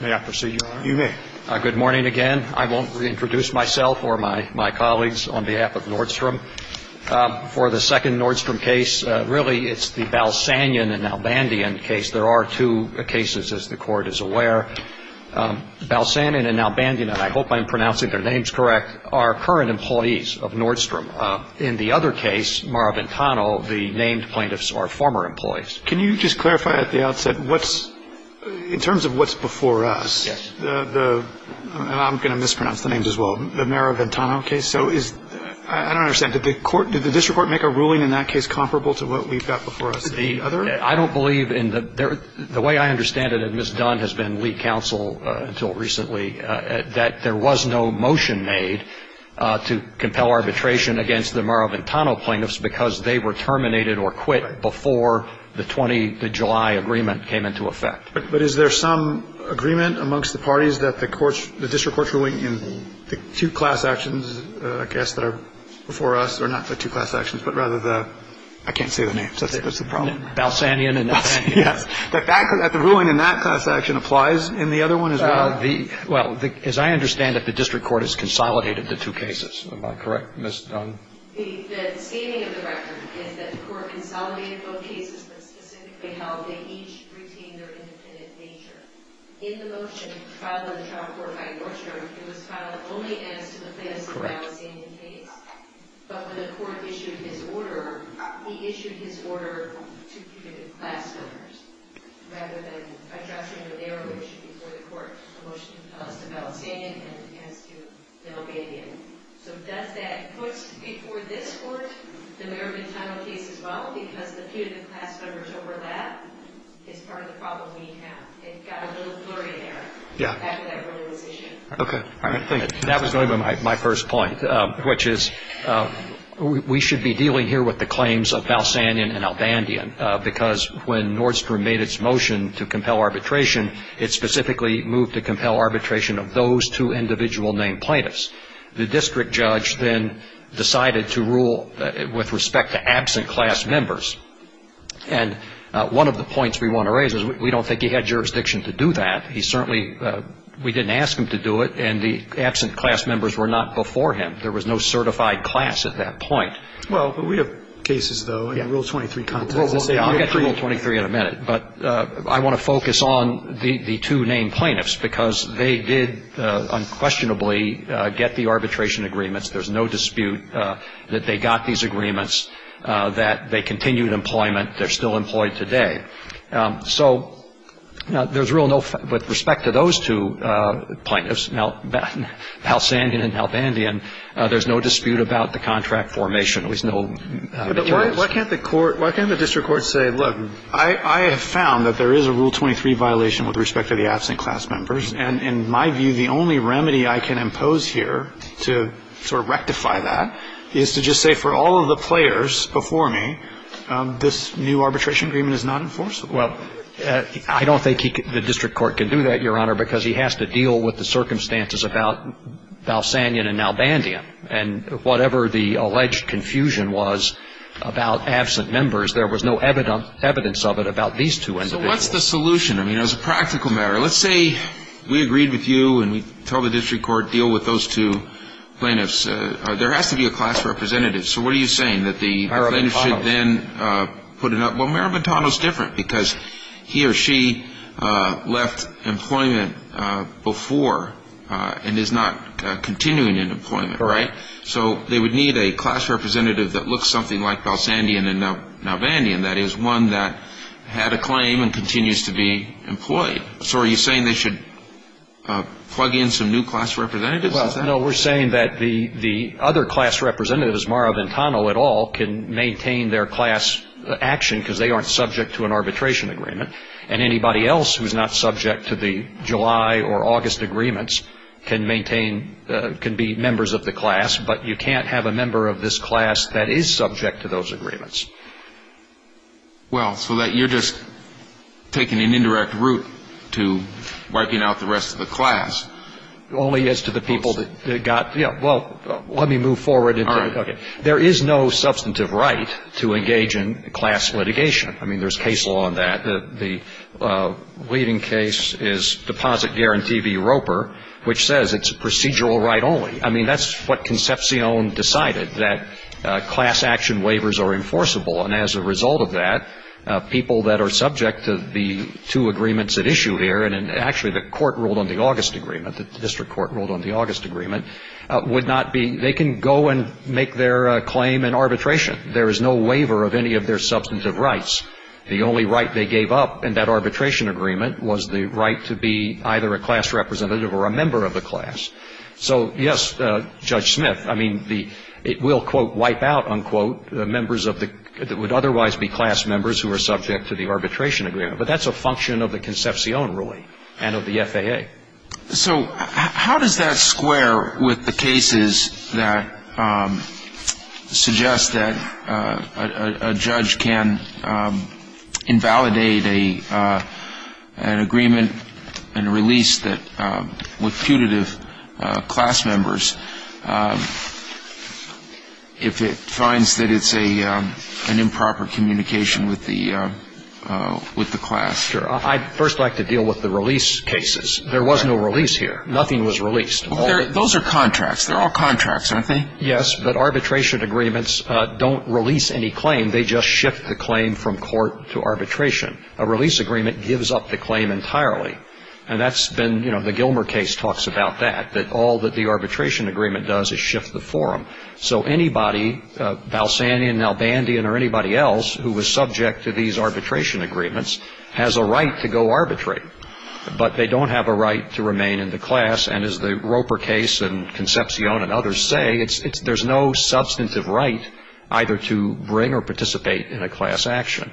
May I proceed, Your Honor? You may. Good morning again. I won't reintroduce myself or my colleagues on behalf of Nordstrom. For the second Nordstrom case, really it's the Balsanian and Nalbandian case. There are two cases, as the Court is aware. Balsanian and Nalbandian, and I hope I'm pronouncing their names correct, are current employees of Nordstrom. In the other case, Maraventano, the named plaintiffs are former employees. Can you just clarify at the outset what's, in terms of what's before us, the, I'm going to mispronounce the names as well, the Maraventano case, so is, I don't understand, did the District Court make a ruling in that case comparable to what we've got before us in the other? I don't believe in the, the way I understand it, and Ms. Dunn has been lead counsel until recently, that there was no motion made to compel arbitration against the Maraventano plaintiffs because they were terminated or quit before the 20, the July agreement came into effect. But is there some agreement amongst the parties that the District Court's ruling in the two class actions, I guess, that are before us, or not the two class actions, but rather the, I can't say the names, that's the problem. Balsanian and Nalbandian. Yes. The ruling in that class action applies in the other one as well? Well, as I understand it, the District Court has consolidated the two cases. Am I correct, Ms. Dunn? The, the stating of the record is that the court consolidated both cases, but specifically held they each retained their independent nature. In the motion filed in the trial court by Nordstrom, it was filed only as to the plaintiffs of Balsanian case. Correct. But when the court issued his order, he issued his order to committed class offenders, rather than addressing the narrow issue before the court. The motion tells us about Balsanian and as to Nalbandian. So does that put before this court the Merriman-Tinell case as well? Because the punitive class offenders overlap is part of the problem we have. It got a little blurry there. Yeah. After that earlier decision. Okay. That was my first point, which is we should be dealing here with the claims of Balsanian and Nalbandian, because when Nordstrom made its motion to compel arbitration, it specifically moved to compel arbitration of those two individual named plaintiffs. The district judge then decided to rule with respect to absent class members. And one of the points we want to raise is we don't think he had jurisdiction to do that. He certainly we didn't ask him to do it, and the absent class members were not before him. There was no certified class at that point. Well, but we have cases, though, in Rule 23 context. Yeah. I'll get to Rule 23 in a minute. But I want to focus on the two named plaintiffs, because they did unquestionably get the arbitration agreements. There's no dispute that they got these agreements, that they continued employment. They're still employed today. So there's real no ---- with respect to those two plaintiffs, Balsanian and Nalbandian, there's no dispute about the contract formation. There's no materials. Why can't the court, why can't the district court say, look, I have found that there is a Rule 23 violation with respect to the absent class members. And in my view, the only remedy I can impose here to sort of rectify that is to just say, for all of the players before me, this new arbitration agreement is not enforceable. Well, I don't think the district court can do that, Your Honor, because he has to deal with the circumstances about Balsanian and Nalbandian and whatever the alleged confusion was about absent members. There was no evidence of it about these two individuals. So what's the solution? I mean, as a practical matter, let's say we agreed with you and we told the district court deal with those two plaintiffs. There has to be a class representative. So what are you saying, that the plaintiffs should then put it up? Well, Mayor Montano is different, because he or she left employment before and is not continuing in employment, right? So they would need a class representative that looks something like Balsanian and Nalbandian, that is, one that had a claim and continues to be employed. So are you saying they should plug in some new class representatives? Well, no. We're saying that the other class representatives, Mara Ventano et al., can maintain their class action because they aren't subject to an arbitration agreement. And anybody else who is not subject to the July or August agreements can maintain, can be members of the class, but you can't have a member of this class that is subject to those agreements. Well, so you're just taking an indirect route to wiping out the rest of the class. Only as to the people that got, you know, well, let me move forward. All right. There is no substantive right to engage in class litigation. I mean, there's case law on that. The leading case is Deposit Guarantee v. Roper, which says it's a procedural right only. I mean, that's what Concepcion decided, that class action waivers are enforceable. And as a result of that, people that are subject to the two agreements at issue here, and actually the court ruled on the August agreement, the district court ruled on the August agreement, would not be, they can go and make their claim in arbitration. There is no waiver of any of their substantive rights. The only right they gave up in that arbitration agreement was the right to be either a class representative or a member of the class. So, yes, Judge Smith, I mean, it will, quote, wipe out, unquote, members of the, that would otherwise be class members who are subject to the arbitration agreement. But that's a function of the Concepcion ruling and of the FAA. So how does that square with the cases that suggest that a judge can invalidate an agreement and a release with putative class members if it finds that it's an improper communication with the class? I'd first like to deal with the release cases. There was no release here. Nothing was released. Those are contracts. They're all contracts, aren't they? Yes, but arbitration agreements don't release any claim. They just shift the claim from court to arbitration. A release agreement gives up the claim entirely. And that's been, you know, the Gilmer case talks about that, that all that the arbitration agreement does is shift the forum. So anybody, Balsanian, Albandian, or anybody else who was subject to these arbitration agreements has a right to go arbitrate. But they don't have a right to remain in the class. And as the Roper case and Concepcion and others say, there's no substantive right either to bring or participate in a class action.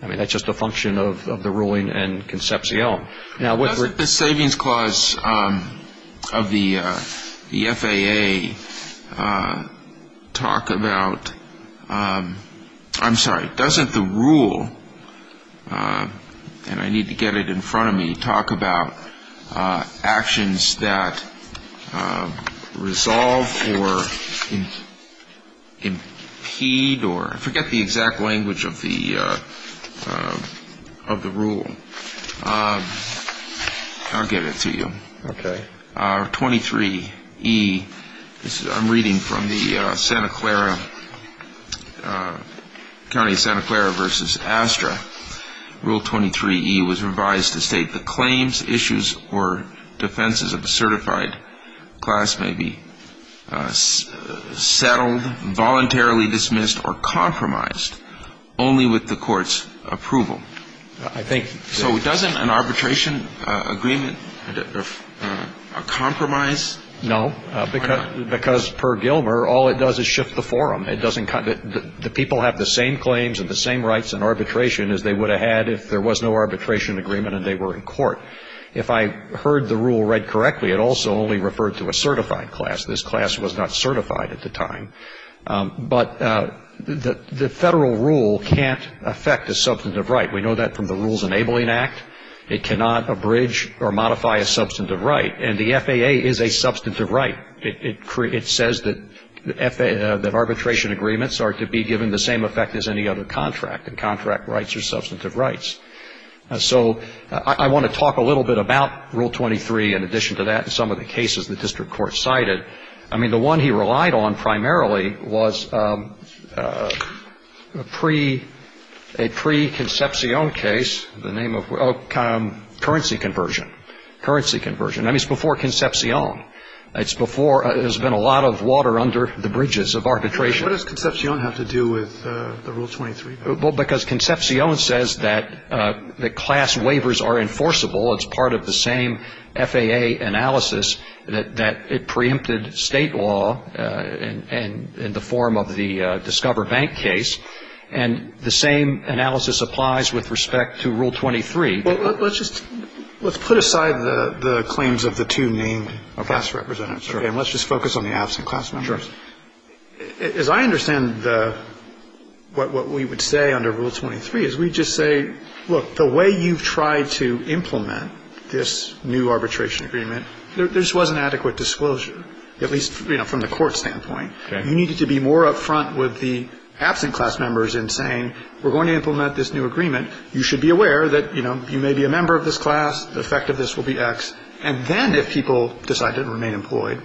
I mean, that's just a function of the ruling and Concepcion. Doesn't the savings clause of the FAA talk about ‑‑ I'm sorry. Doesn't the rule, and I need to get it in front of me, talk about actions that resolve or impede or forget the exact language of the rule? I'll get it to you. Okay. Rule 23E, I'm reading from the Santa Clara, County of Santa Clara v. Astra. Rule 23E was revised to state the claims, issues, or defenses of a certified class may be settled, voluntarily dismissed, or compromised only with the court's approval. So doesn't an arbitration agreement compromise? No, because per Gilmer, all it does is shift the forum. The people have the same claims and the same rights in arbitration as they would have had if there was no arbitration agreement and they were in court. If I heard the rule read correctly, it also only referred to a certified class. This class was not certified at the time. But the federal rule can't affect a substantive right. We know that from the Rules Enabling Act. It cannot abridge or modify a substantive right. And the FAA is a substantive right. It says that arbitration agreements are to be given the same effect as any other contract, and contract rights are substantive rights. So I want to talk a little bit about Rule 23 in addition to that and some of the cases the district court cited. I mean, the one he relied on primarily was a pre-Concepcion case, the name of currency conversion, currency conversion. I mean, it's before Concepcion. It's before there's been a lot of water under the bridges of arbitration. What does Concepcion have to do with the Rule 23? Well, because Concepcion says that the class waivers are enforceable. It's part of the same FAA analysis that it preempted state law in the form of the Discover Bank case. And the same analysis applies with respect to Rule 23. Well, let's just put aside the claims of the two named class representatives. Okay. And let's just focus on the absent class members. Sure. As I understand what we would say under Rule 23 is we just say, look, the way you've tried to implement this new arbitration agreement, there just wasn't adequate disclosure, at least, you know, from the court standpoint. Okay. You needed to be more up front with the absent class members in saying we're going to implement this new agreement. You should be aware that, you know, you may be a member of this class. The effect of this will be X. And then if people decide to remain employed,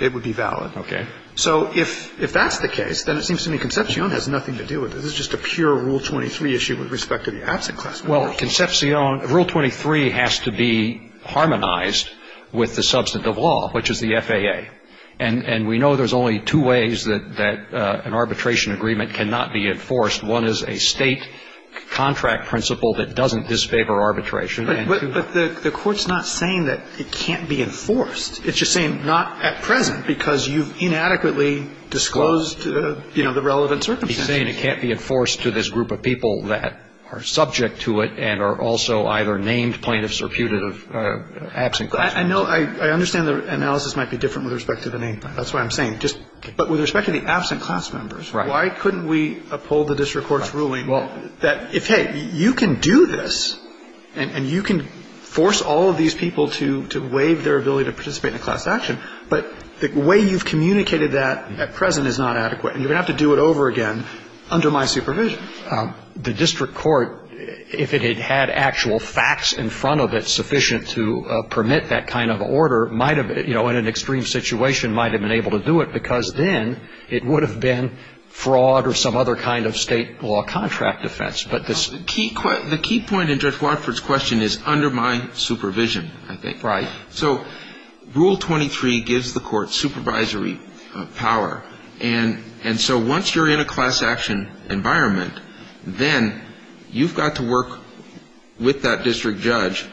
it would be valid. Okay. So if that's the case, then it seems to me Concepcion has nothing to do with it. This is just a pure Rule 23 issue with respect to the absent class members. Well, Concepcion, Rule 23 has to be harmonized with the substance of law, which is the FAA. And we know there's only two ways that an arbitration agreement cannot be enforced. One is a State contract principle that doesn't disfavor arbitration. But the Court's not saying that it can't be enforced. It's just saying not at present because you've inadequately disclosed, you know, the relevant circumstances. He's saying it can't be enforced to this group of people that are subject to it and are also either named plaintiffs or putative absent class members. I know. I understand the analysis might be different with respect to the name. That's what I'm saying. But with respect to the absent class members, why couldn't we uphold the district court's ruling that, hey, you can do this and you can force all of these people to waive their ability to participate in a class action, but the way you've communicated that at present is not adequate and you're going to have to do it over again under my supervision. The district court, if it had had actual facts in front of it sufficient to permit that kind of order, might have, you know, in an extreme situation, might have been able to do it because then it would have been fraud or some other kind of State law contract defense. But the key point in Judge Watford's question is under my supervision, I think. Right. So Rule 23 gives the Court supervisory power. And so once you're in a class action environment, then you've got to work with that district judge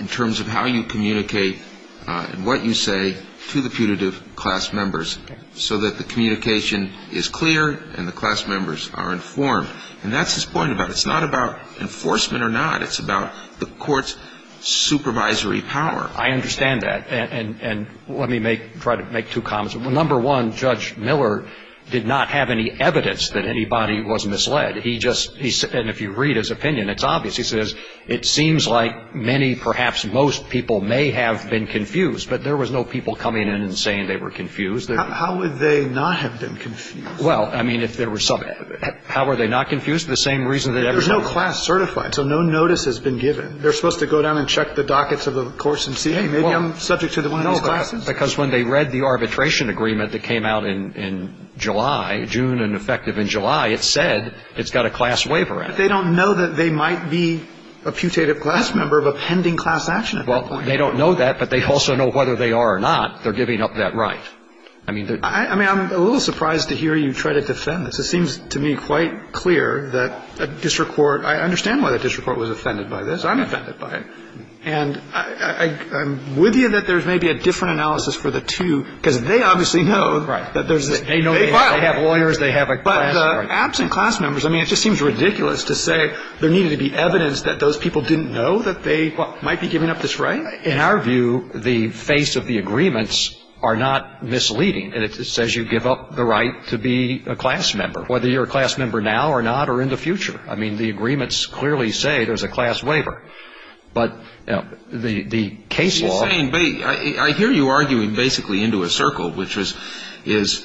in terms of how you communicate and what you say to the putative class members so that the communication is clear and the class members are informed. And that's his point. It's not about enforcement or not. It's about the Court's supervisory power. I understand that. And let me try to make two comments. Number one, Judge Miller did not have any evidence that anybody was misled. And if you read his opinion, it's obvious. He says, it seems like many, perhaps most people may have been confused, but there was no people coming in and saying they were confused. How would they not have been confused? Well, I mean, if there were some – how were they not confused? The same reason that everybody – There's no class certified, so no notice has been given. They're supposed to go down and check the dockets of the course and see, hey, maybe I'm subject to one of these classes. Because when they read the arbitration agreement that came out in July, June and effective in July, it said it's got a class waiver. But they don't know that they might be a putative class member of a pending class action at that point. Well, they don't know that, but they also know whether they are or not. They're giving up that right. I mean, I'm a little surprised to hear you try to defend this. It seems to me quite clear that a district court – I understand why the district court was offended by this. I'm offended by it. And I'm with you that there's maybe a different analysis for the two, because they obviously know that there's – Right. They have lawyers. They have a class. But absent class members, I mean, it just seems ridiculous to say there needed to be evidence that those people didn't know that they might be giving up this right. In our view, the face of the agreements are not misleading. And it says you give up the right to be a class member, whether you're a class member now or not or in the future. I mean, the agreements clearly say there's a class waiver. But the case law – But you're saying – I hear you arguing basically into a circle, which is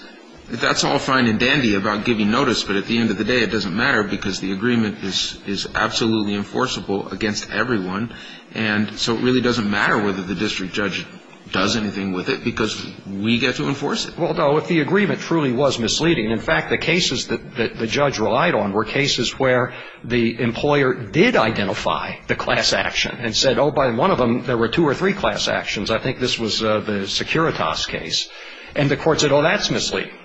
that's all fine and dandy about giving notice, but at the end of the day it doesn't matter because the agreement is absolutely enforceable against everyone. And so it really doesn't matter whether the district judge does anything with it because we get to enforce it. Well, no, if the agreement truly was misleading – in fact, the cases that the judge relied on were cases where the employer did identify the class action and said, oh, by one of them there were two or three class actions. I think this was the Securitas case. And the court said, oh, that's misleading.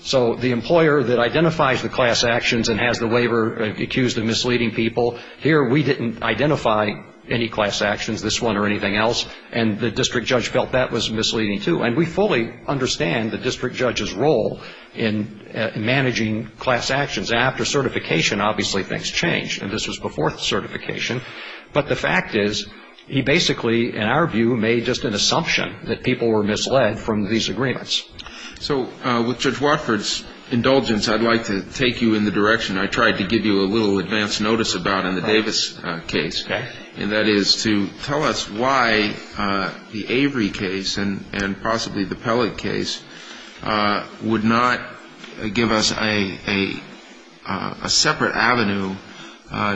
So the employer that identifies the class actions and has the waiver accused of misleading people, here we didn't identify any class actions, this one or anything else, and the district judge felt that was misleading too. And we fully understand the district judge's role in managing class actions. After certification, obviously things change, and this was before certification. But the fact is he basically, in our view, made just an assumption that people were misled from these agreements. So with Judge Watford's indulgence, I'd like to take you in the direction I tried to give you a little advance notice about in the Davis case. Okay. And that is to tell us why the Avery case and possibly the Pellett case would not give us a separate avenue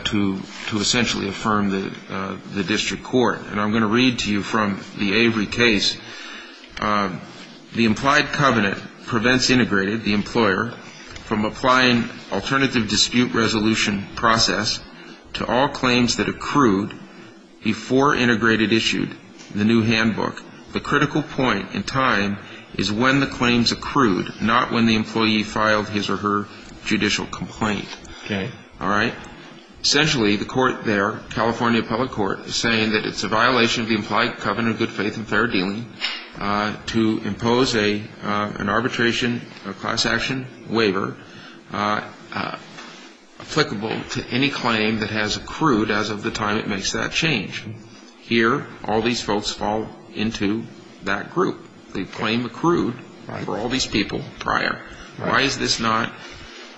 to essentially affirm the district court. And I'm going to read to you from the Avery case. The implied covenant prevents integrated, the employer, from applying alternative dispute resolution process to all claims that accrued before integrated issued the new handbook. The critical point in time is when the claims accrued, not when the employee filed his or her judicial complaint. Okay. All right? Essentially, the court there, California Public Court, is saying that it's a violation of the implied covenant of good faith and fair dealing to impose an arbitration, a class action waiver, applicable to any claim that has accrued as of the time it makes that change. Here, all these folks fall into that group. The claim accrued for all these people prior. Why is this not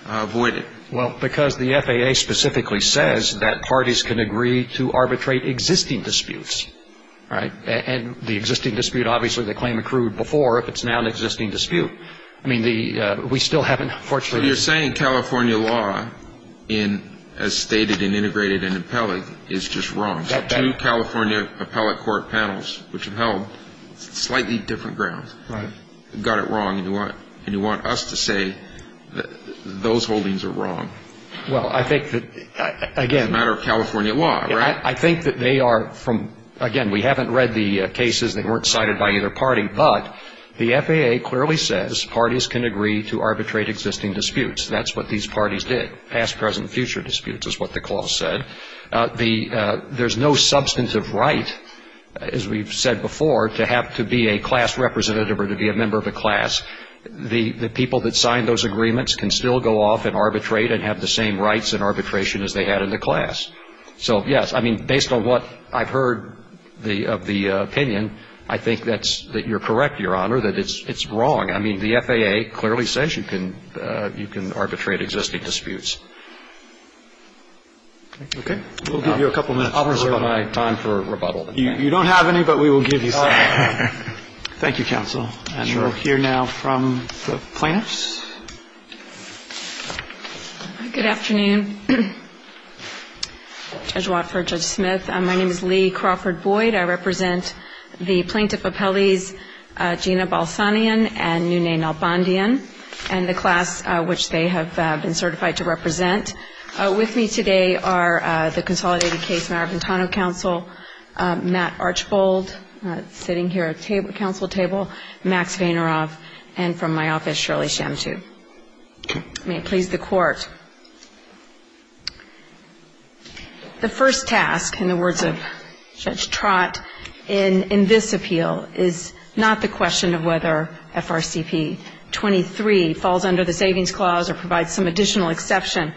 avoided? Well, because the FAA specifically says that parties can agree to arbitrate existing disputes. All right? And the existing dispute, obviously, the claim accrued before, if it's now an existing dispute. I mean, we still haven't fortunately ---- So you're saying California law in, as stated in integrated and in Pellett, is just wrong. That's right. Two California Appellate Court panels, which have held slightly different grounds, got it wrong. And you want us to say that those holdings are wrong. Well, I think that, again ---- It's a matter of California law. Right? I think that they are from, again, we haven't read the cases. They weren't cited by either party. But the FAA clearly says parties can agree to arbitrate existing disputes. That's what these parties did. Past, present, future disputes is what the clause said. There's no substantive right, as we've said before, to have to be a class representative or to be a member of a class. The people that signed those agreements can still go off and arbitrate and have the same rights in arbitration as they had in the class. So, yes, I mean, based on what I've heard of the opinion, I think that you're correct, Your Honor, that it's wrong. I mean, the FAA clearly says you can arbitrate existing disputes. Okay. We'll give you a couple minutes. I'll reserve my time for rebuttal. You don't have any, but we will give you some. Thank you, counsel. Sure. And we'll hear now from the plaintiffs. Good afternoon. Judge Watford, Judge Smith. My name is Lee Crawford Boyd. I represent the Plaintiff Appellees Gina Balsanian and Nune Nalbandian. And the class which they have been certified to represent with me today are the Consolidated Case Marabuntano Counsel Matt Archbold, sitting here at the counsel table, Max Vaynerov, and from my office, Shirley Shantu. May it please the Court. The first task, in the words of Judge Trott, in this appeal, is not the question of whether FRCP 23, falls under the Savings Clause or provides some additional exception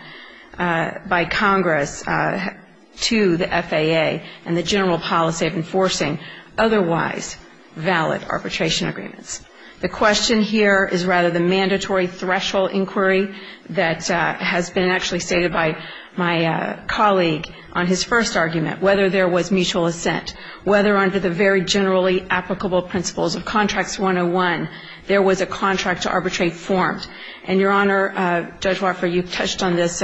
by Congress to the FAA and the general policy of enforcing otherwise valid arbitration agreements. The question here is rather the mandatory threshold inquiry that has been actually stated by my colleague on his first argument, whether there was mutual assent, whether under the very generally applicable principles of Contracts 101, there was a contract to arbitrate formed. And, Your Honor, Judge Watford, you touched on this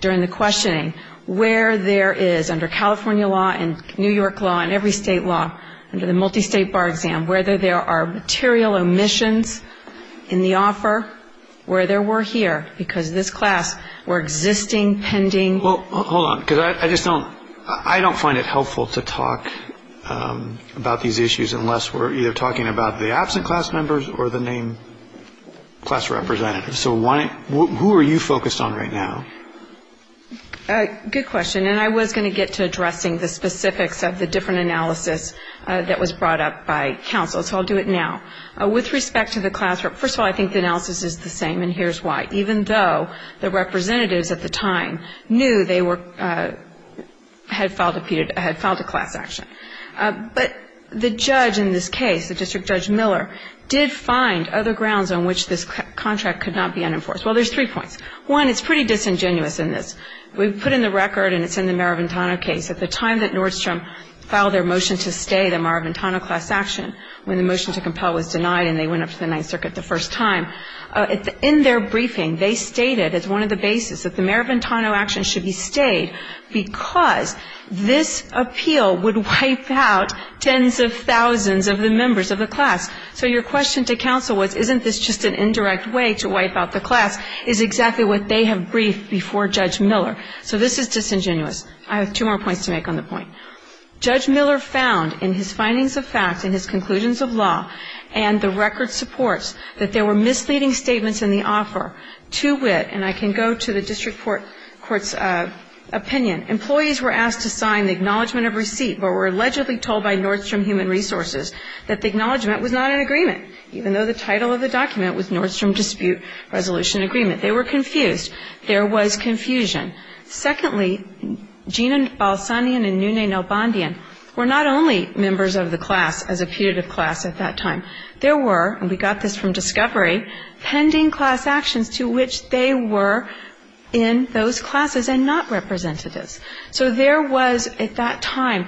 during the questioning. Where there is, under California law and New York law and every state law, under the Multistate Bar Exam, whether there are material omissions in the offer, where there were here, because this class were existing, pending. Well, hold on. Because I just don't, I don't find it helpful to talk about these issues unless we're either talking about the absent class members or the named class representatives. So why, who are you focused on right now? Good question. And I was going to get to addressing the specifics of the different analysis that was brought up by counsel. So I'll do it now. With respect to the class, first of all, I think the analysis is the same, and here's why. Even though the representatives at the time knew they were, had filed a class action. But the judge in this case, the District Judge Miller, did find other grounds on which this contract could not be unenforced. Well, there's three points. One, it's pretty disingenuous in this. We've put in the record, and it's in the Maraventano case, at the time that Nordstrom filed their motion to stay the Maraventano class action, when the motion to compel was denied and they went up to the Ninth Circuit the first time. In their briefing, they stated as one of the bases that the Maraventano action should be stayed because this appeal would wipe out tens of thousands of the members of the class. So your question to counsel was, isn't this just an indirect way to wipe out the class, is exactly what they have briefed before Judge Miller. So this is disingenuous. I have two more points to make on the point. Judge Miller found in his findings of fact and his conclusions of law and the record supports that there were misleading statements in the offer to wit, and I can go to the district court's opinion. Employees were asked to sign the acknowledgment of receipt, but were allegedly told by Nordstrom Human Resources that the acknowledgment was not an agreement, even though the title of the document was Nordstrom Dispute Resolution Agreement. They were confused. There was confusion. Secondly, Gina Balsanian and Nune Nalbandian were not only members of the class as a putative class at that time. There were, and we got this from discovery, pending class actions to which they were in those classes and not representatives. So there was at that time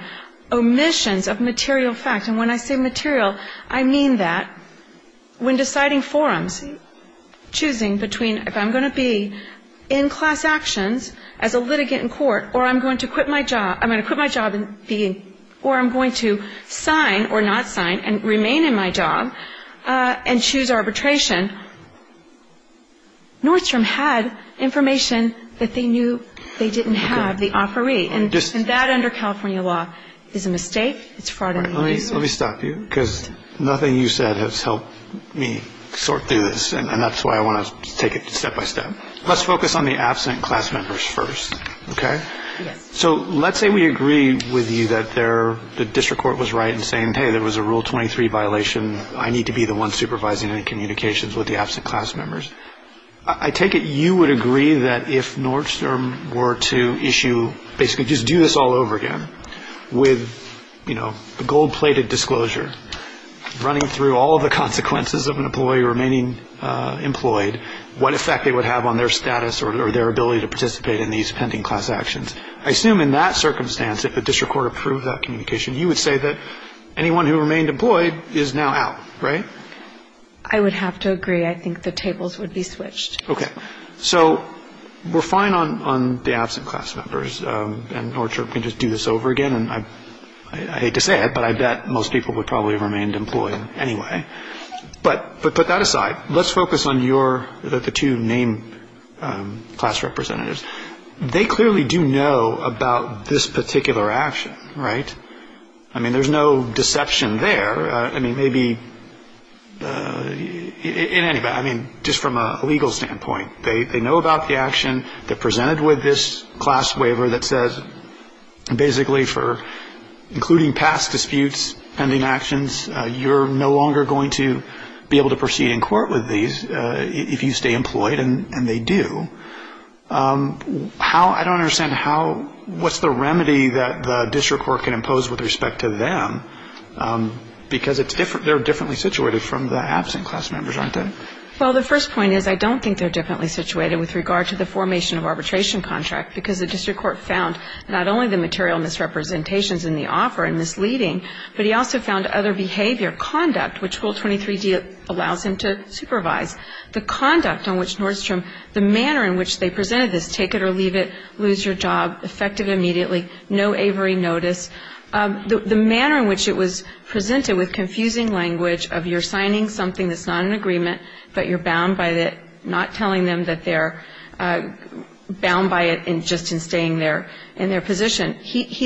omissions of material fact. And when I say material, I mean that when deciding forums, choosing between if I'm going to be in class actions as a litigant in court or I'm going to quit my job, I'm going to quit my job and be, or I'm going to sign or not sign and remain in my job and choose arbitration, Nordstrom had information that they knew they didn't have, the offeree, and that under California law is a mistake. It's fraud. Let me stop you because nothing you said has helped me sort through this, and that's why I want to take it step by step. Let's focus on the absent class members first, okay? If the district court was right in saying, hey, there was a Rule 23 violation, I need to be the one supervising any communications with the absent class members, I take it you would agree that if Nordstrom were to issue, basically just do this all over again, with, you know, the gold-plated disclosure, running through all of the consequences of an employee remaining employed, what effect it would have on their status or their ability to say that anyone who remained employed is now out, right? I would have to agree. I think the tables would be switched. Okay. So we're fine on the absent class members, and Nordstrom can just do this over again, and I hate to say it, but I bet most people would probably remain employed anyway. But put that aside. Let's focus on your, the two named class representatives. They clearly do know about this particular action, right? I mean, there's no deception there. I mean, maybe, in any event, I mean, just from a legal standpoint, they know about the action. They're presented with this class waiver that says basically for, including past disputes, pending actions, you're no longer going to be able to proceed in court with these if you stay employed, and they do. How, I don't understand how, what's the remedy that the district court can impose with respect to them? Because it's different, they're differently situated from the absent class members, aren't they? Well, the first point is I don't think they're differently situated with regard to the formation of arbitration contract, because the district court found not only the material misrepresentations in the offer and misleading, but he also found other behavior, conduct, which Rule 23d allows him to supervise. The conduct on which Nordstrom, the manner in which they presented this, take it or leave it, lose your job, effective immediately, no aviary notice, the manner in which it was presented with confusing language of you're signing something that's not an agreement, but you're bound by it, not telling them that they're bound by it just in staying there in their position.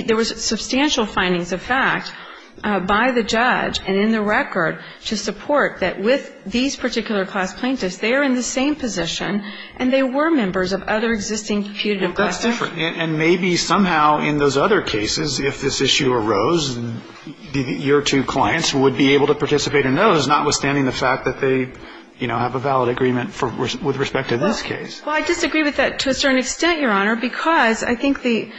There was substantial findings of fact by the judge and in the record to support that with these particular class plaintiffs, they are in the same position and they were members of other existing putative classes. That's different, and maybe somehow in those other cases, if this issue arose, your two clients would be able to participate in those, notwithstanding the fact that they, you know, have a valid agreement with respect to this case. Well, I disagree with that to a certain extent, Your Honor, because I think the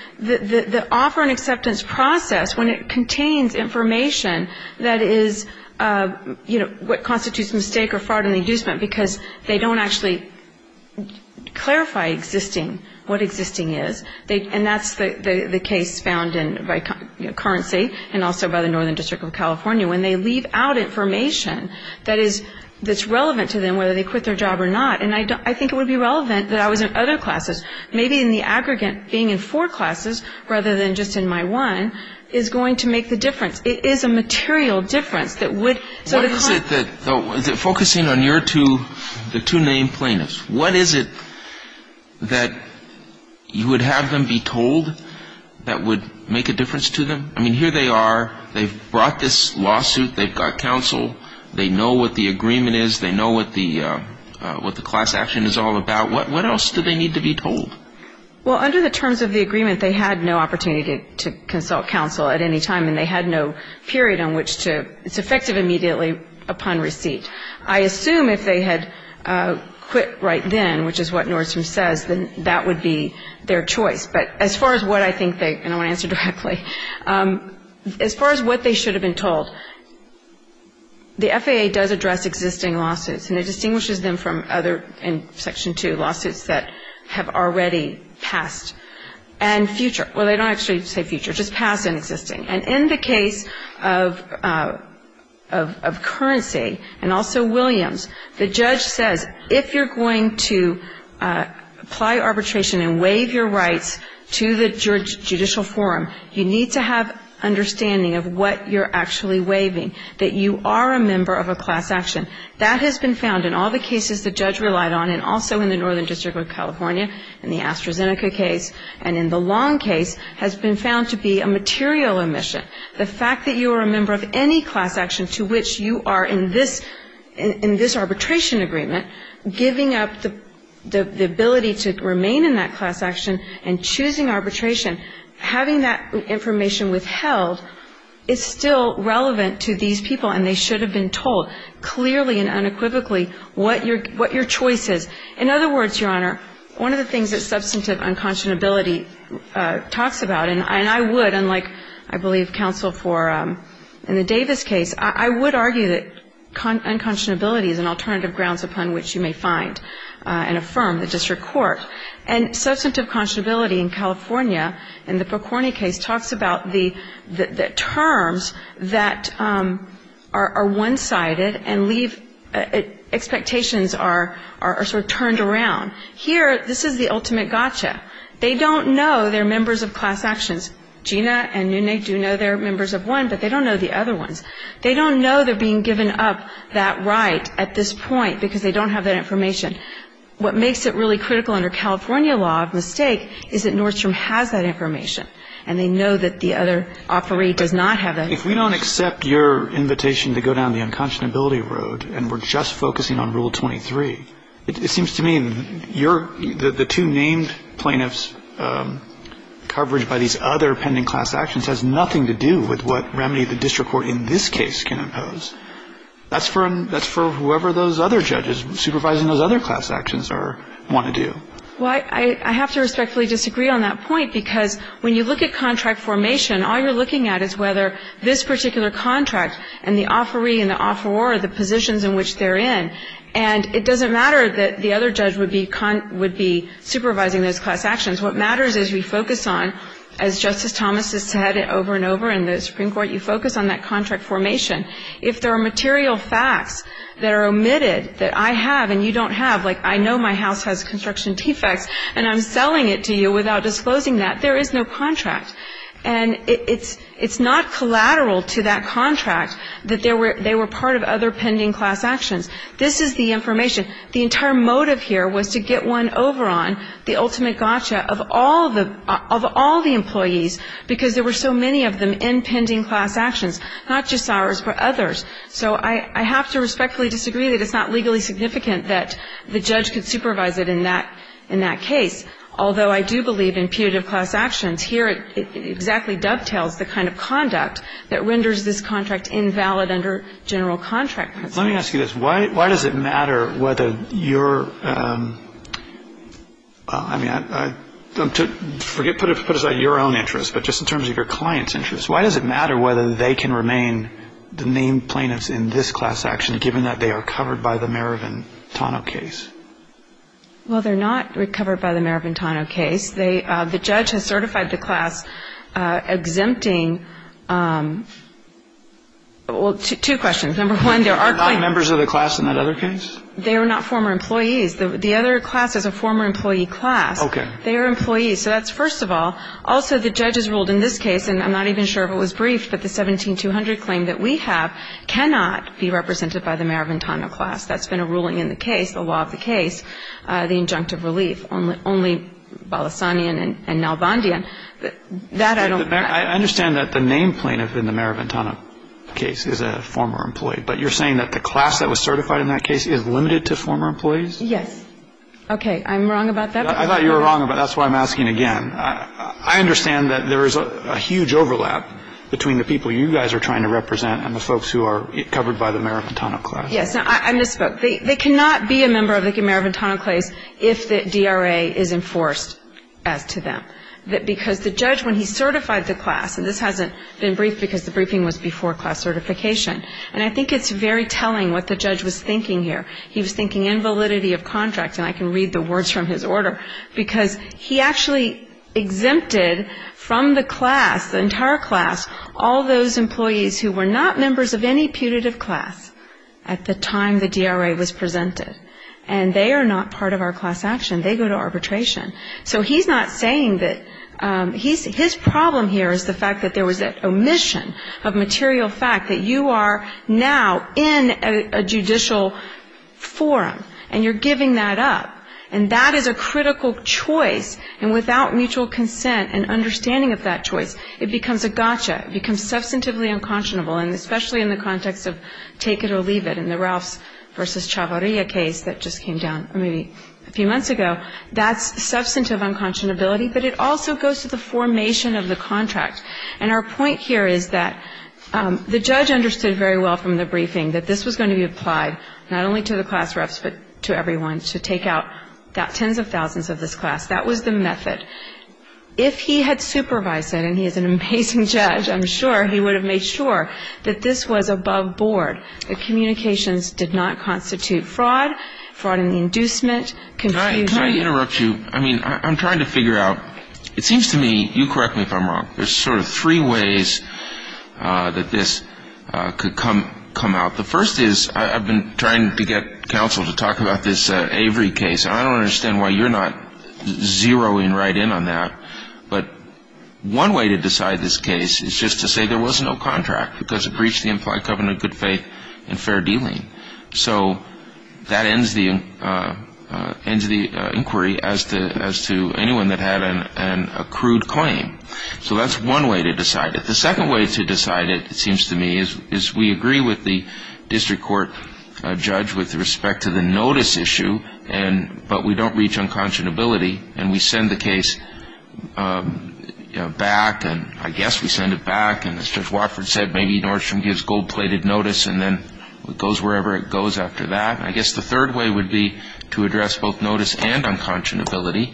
offer and acceptance process, when it contains information that is, you know, what constitutes mistake or fraud and inducement, because they don't actually clarify existing what existing is, and that's the case found in most cases by, you know, currency and also by the Northern District of California, when they leave out information that is, that's relevant to them, whether they quit their job or not, and I think it would be relevant that I was in other classes. Maybe in the aggregate, being in four classes rather than just in my one is going to make the difference. It is a material difference that would sort of con... Is it focusing on your two, the two named plaintiffs? What is it that you would have them be told that would make a difference to them? I mean, here they are, they've brought this lawsuit, they've got counsel, they know what the agreement is, they know what the class action is all about. What else do they need to be told? Well, under the terms of the agreement, they had no opportunity to consult counsel at any time, and they had no period on which to, it's effective immediately upon receipt. I assume if they had quit right then, which is what Nordstrom says, then that would be their choice. But as far as what I think they, and I want to answer directly, as far as what they should have been told, the FAA does address existing lawsuits, and it distinguishes them from other, in Section 2, lawsuits that have already passed. And future, well, they don't actually say future, just past and existing. And in the case of Currency and also Williams, the judge says if you're going to apply arbitration and waive your rights to the judicial forum, you need to have understanding of what you're actually waiving, that you are a member of a class action. That has been found in all the cases the judge relied on, and also in the Northern District of California, in the AstraZeneca case, and in the Long case, has been found to be a material omission. The fact that you are a member of any class action to which you are in this, in this arbitration agreement, giving up the ability to remain in that class action and choosing arbitration, having that information withheld is still relevant to these people, and they should have been told. Clearly and unequivocally, what your choice is. In other words, Your Honor, one of the things that substantive unconscionability talks about, and I would, unlike, I believe, counsel for in the Davis case, I would argue that unconscionability is an alternative grounds upon which you may find and affirm the district court. And substantive conscionability in California, in the Perconi case, talks about the terms that are one-sided and leave expectations are sort of turned around. Here, this is the ultimate gotcha. They don't know they're members of class actions. Gina and Nune do know they're members of one, but they don't know the other ones. They don't know they're being given up that right at this point, because they don't have that information. What makes it really critical under California law of mistake is that Nordstrom has that information, and they know that the other operee does not have that information. If we don't accept your invitation to go down the unconscionability road, and we're just focusing on Rule 23, it seems to me your, the two named plaintiffs' coverage by these other pending class actions has nothing to do with what remedy the district court in this case can impose. That's for whoever those other judges supervising those other class actions want to do. Well, I have to respectfully disagree on that point, because when you look at contract formation, all you're looking at is whether this particular contract and the operee and the offeror are the positions in which they're in. And it doesn't matter that the other judge would be supervising those class actions. What matters is we focus on, as Justice Thomas has said over and over in the Supreme Court, you focus on that contract formation. If there are material facts that are omitted that I have and you don't have, like I know my house has construction defects and I'm selling it to you without disclosing that, there is no contract. And it's not collateral to that contract that they were part of other pending class actions. This is the information. The entire motive here was to get one over on the ultimate gotcha of all the employees, because there were so many of them in pending class actions, not just ours but others. So I have to respectfully disagree that it's not legally significant that the judge could supervise it in that case, although I do believe in putative class actions. Here it exactly dovetails the kind of conduct that renders this contract invalid under general contract principles. Let me ask you this. Why does it matter whether your, I mean, put aside your own interest, but just in terms of your client's interest, why does it matter whether they can remain the named plaintiffs in this class action, given that they are covered by the Marovan-Tano case? Well, they're not covered by the Marovan-Tano case. The judge has certified the class exempting, well, two questions. Number one, there are claims. They're not members of the class in that other case? They are not former employees. The other class is a former employee class. Okay. They are employees. So that's first of all. Also, the judge has ruled in this case, and I'm not even sure if it was briefed, but the 17-200 claim that we have cannot be represented by the Marovan-Tano class. That's been a ruling in the case, the law of the case, the injunctive relief. Only Balassanian and Nalbandian. That I don't know. I understand that the named plaintiff in the Marovan-Tano case is a former employee, but you're saying that the class that was certified in that case is limited to former employees? Yes. Okay. I'm wrong about that? I thought you were wrong, but that's why I'm asking again. I understand that there is a huge overlap between the people you guys are trying to represent and the folks who are covered by the Marovan-Tano class. Yes. I misspoke. They cannot be a member of the Marovan-Tano case if the DRA is enforced as to them, because the judge, when he certified the class, and this hasn't been briefed because the briefing was before class certification, and I think it's very telling what the judge was thinking here. He was thinking invalidity of contract, and I can read the words from his order, because he actually exempted from the class, the entire class, all those employees who were not members of any putative class at the time the DRA was presented, and they are not part of our class action. They go to arbitration. So he's not saying that his problem here is the fact that there was an omission of material fact, that you are now in a judicial forum, and you're giving that up, and that is a critical choice, and without mutual consent and understanding of that in the context of take it or leave it in the Ralphs v. Chavarria case that just came down maybe a few months ago, that's substantive unconscionability, but it also goes to the formation of the contract. And our point here is that the judge understood very well from the briefing that this was going to be applied not only to the class refs, but to everyone, to take out tens of thousands of this class. That was the method. If he had supervised it, and he is an amazing judge, I'm sure, he would have made sure that this was above board, that communications did not constitute fraud, fraud in the inducement, confusion. Can I interrupt you? I mean, I'm trying to figure out, it seems to me, you correct me if I'm wrong, there's sort of three ways that this could come out. The first is I've been trying to get counsel to talk about this Avery case, and I don't understand why you're not zeroing right in on that. But one way to decide this case is just to say there was no contract, because it breached the implied covenant of good faith and fair dealing. So that ends the inquiry as to anyone that had an accrued claim. So that's one way to decide it. The second way to decide it, it seems to me, is we agree with the district court judge with respect to the notice issue, but we don't reach unconscionability, and we send the case back, and I guess we send it back, and as Judge Watford said, maybe Nordstrom gives gold-plated notice and then it goes wherever it goes after that. I guess the third way would be to address both notice and unconscionability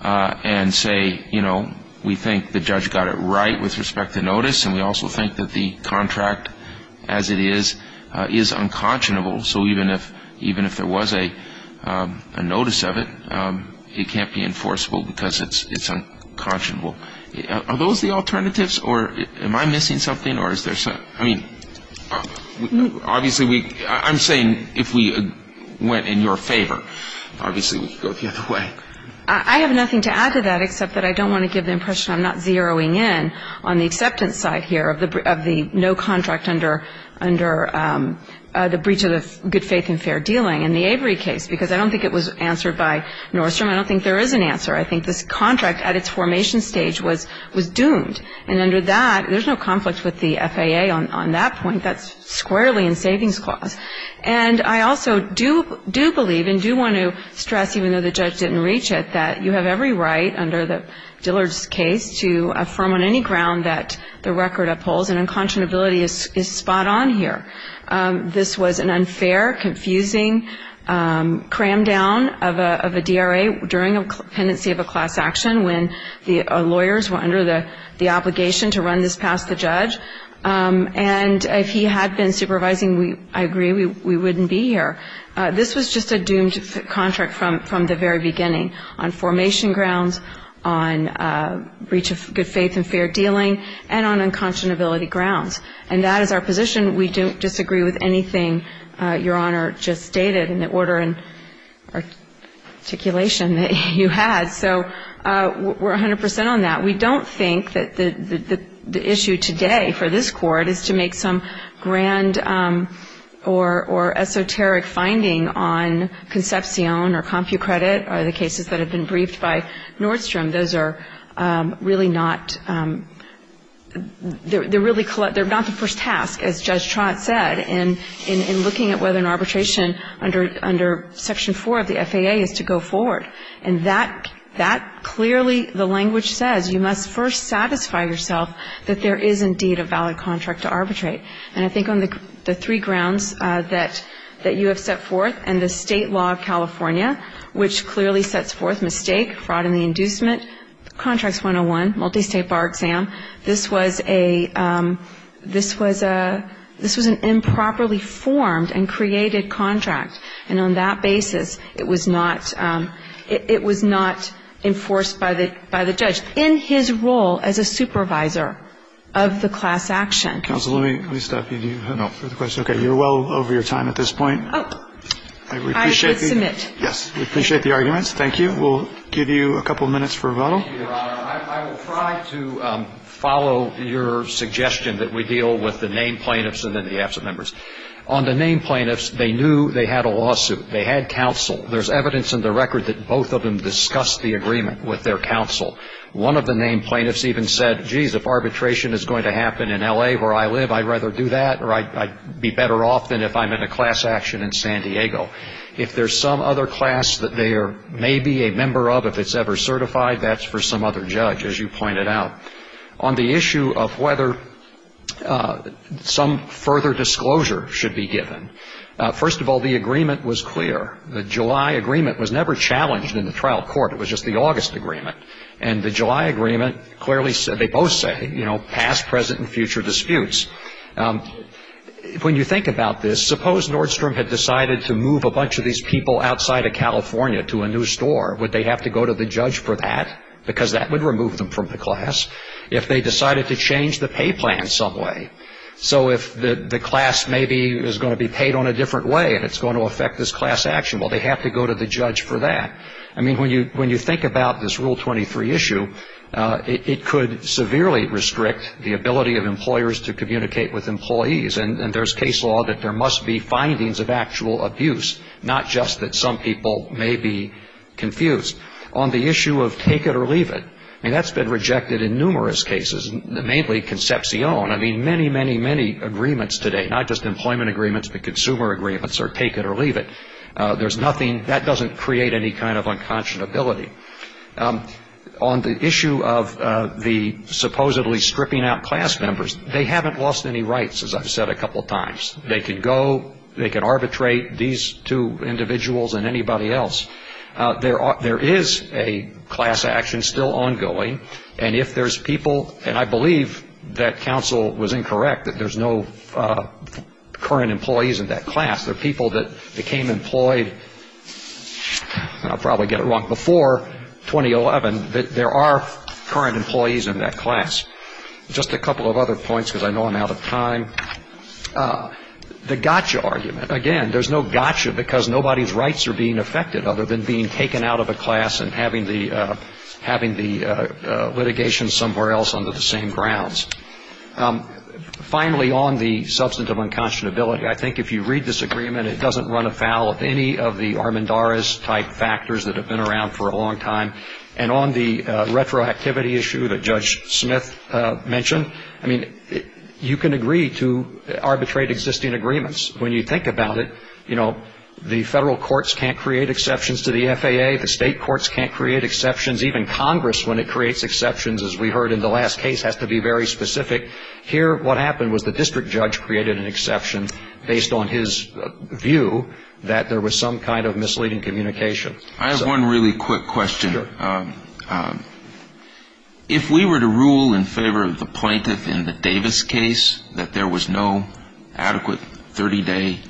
and say, you know, we think the judge got it right with respect to notice, and we also think that the contract as it is is unconscionable. So even if there was a notice of it, it can't be enforceable because it's unconscionable. Are those the alternatives, or am I missing something? I mean, obviously, I'm saying if we went in your favor, obviously we could go the other way. I have nothing to add to that except that I don't want to give the impression I'm not zeroing in on the acceptance side here of the no contract under the breach of the good faith and fair dealing in the Avery case because I don't think it was answered by Nordstrom. I don't think there is an answer. I think this contract at its formation stage was doomed, and under that, there's no conflict with the FAA on that point. That's squarely in savings clause. And I also do believe and do want to stress, even though the judge didn't reach it, that you have every right under the Dillard's case to affirm on any ground that the record upholds, and unconscionability is spot on here. This was an unfair, confusing cram down of a DRA during a pendency of a class action when the lawyers were under the obligation to run this past the judge, and if he had been supervising, I agree, we wouldn't be here. This was just a doomed contract from the very beginning on formation grounds, on breach of good faith and fair dealing, and on unconscionability grounds. And that is our position. We don't disagree with anything Your Honor just stated in the order and articulation that you had. So we're 100 percent on that. We don't think that the issue today for this Court is to make some grand or esoteric finding on Concepcion or CompuCredit or the cases that have been briefed by Nordstrom. Those are really not the first task, as Judge Trott said, in looking at whether an arbitration under Section 4 of the FAA is to go forward. And that clearly, the language says, you must first satisfy yourself that there is indeed a valid contract to arbitrate. And I think on the three grounds that you have set forth and the state law of California, which clearly sets forth mistake, fraud in the inducement, Contracts 101, multistate bar exam, this was an improperly formed and created contract. And on that basis, it was not enforced by the judge in his role as a supervisor of the class action. Counsel, let me stop you. No. Okay. You're well over your time at this point. Oh. I would submit. Yes. We appreciate the arguments. Thank you. We'll give you a couple minutes for rebuttal. Thank you, Your Honor. I will try to follow your suggestion that we deal with the named plaintiffs and then the absent members. On the named plaintiffs, they knew they had a lawsuit. They had counsel. There's evidence in the record that both of them discussed the agreement with their counsel. One of the named plaintiffs even said, geez, if arbitration is going to happen in L.A. where I live, I'd rather do that, or I'd be better off than if I'm in a class action in San Diego. If there's some other class that they may be a member of, if it's ever certified, that's for some other judge, as you pointed out. On the issue of whether some further disclosure should be given, first of all, the agreement was clear. The July agreement was never challenged in the trial court. It was just the August agreement. And the July agreement clearly said, they both said, you know, past, present, and future disputes. When you think about this, suppose Nordstrom had decided to move a bunch of these people outside of California to a new store. Would they have to go to the judge for that? Because that would remove them from the class. If they decided to change the pay plan some way, so if the class maybe is going to be paid on a different way, and it's going to affect this class action, well, they have to go to the judge for that. I mean, when you think about this Rule 23 issue, it could severely restrict the ability of employers to communicate with employees. And there's case law that there must be findings of actual abuse, not just that some people may be confused. On the issue of take it or leave it, I mean, that's been rejected in numerous cases, mainly Concepcion. I mean, many, many, many agreements today, not just employment agreements, but consumer agreements are take it or leave it. There's nothing that doesn't create any kind of unconscionability. On the issue of the supposedly stripping out class members, they haven't lost any rights, as I've said a couple of times. They can go. They can arbitrate these two individuals and anybody else. There is a class action still ongoing. And if there's people, and I believe that counsel was incorrect that there's no current employees in that class. There are people that became employed, and I'll probably get it wrong, before 2011. There are current employees in that class. Just a couple of other points, because I know I'm out of time. The gotcha argument. Again, there's no gotcha because nobody's rights are being affected other than being taken out of a class and having the litigation somewhere else under the same grounds. Finally, on the substantive unconscionability, I think if you read this agreement, it doesn't run afoul of any of the Armendariz-type factors that have been around for a long time. And on the retroactivity issue that Judge Smith mentioned, I mean, you can agree to arbitrate existing agreements. When you think about it, you know, the federal courts can't create exceptions to the FAA. The state courts can't create exceptions. Even Congress, when it creates exceptions, as we heard in the last case, has to be very specific. Here, what happened was the district judge created an exception based on his view that there was some kind of misleading communication. I have one really quick question. If we were to rule in favor of the plaintiff in the Davis case, that there was no adequate 30-day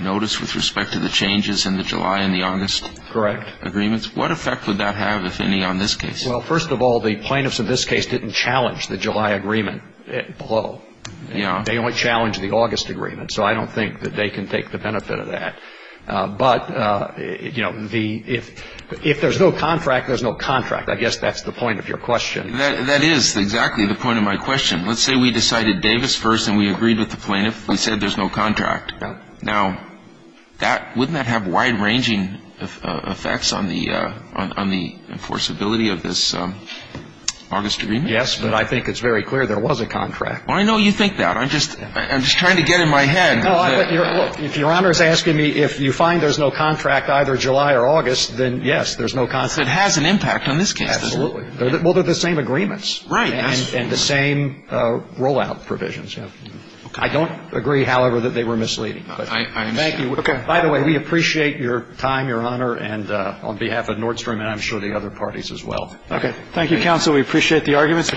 notice with respect to the changes in the July and the August agreements, what effect would that have, if any, on this case? Well, first of all, the plaintiffs in this case didn't challenge the July agreement below. Yeah. They only challenged the August agreement. So I don't think that they can take the benefit of that. But, you know, if there's no contract, there's no contract. I guess that's the point of your question. That is exactly the point of my question. Let's say we decided Davis first and we agreed with the plaintiff. We said there's no contract. Yeah. Now, wouldn't that have wide-ranging effects on the enforceability of this August agreement? Yes. But I think it's very clear there was a contract. I know you think that. I'm just trying to get in my head. Look, if Your Honor is asking me if you find there's no contract either July or August, then, yes, there's no contract. It has an impact on this case. Absolutely. Well, they're the same agreements. Right. And the same rollout provisions. I don't agree, however, that they were misleading. I understand. By the way, we appreciate your time, Your Honor, and on behalf of Nordstrom and I'm sure the other parties as well. Okay. Thank you, counsel. We appreciate the arguments.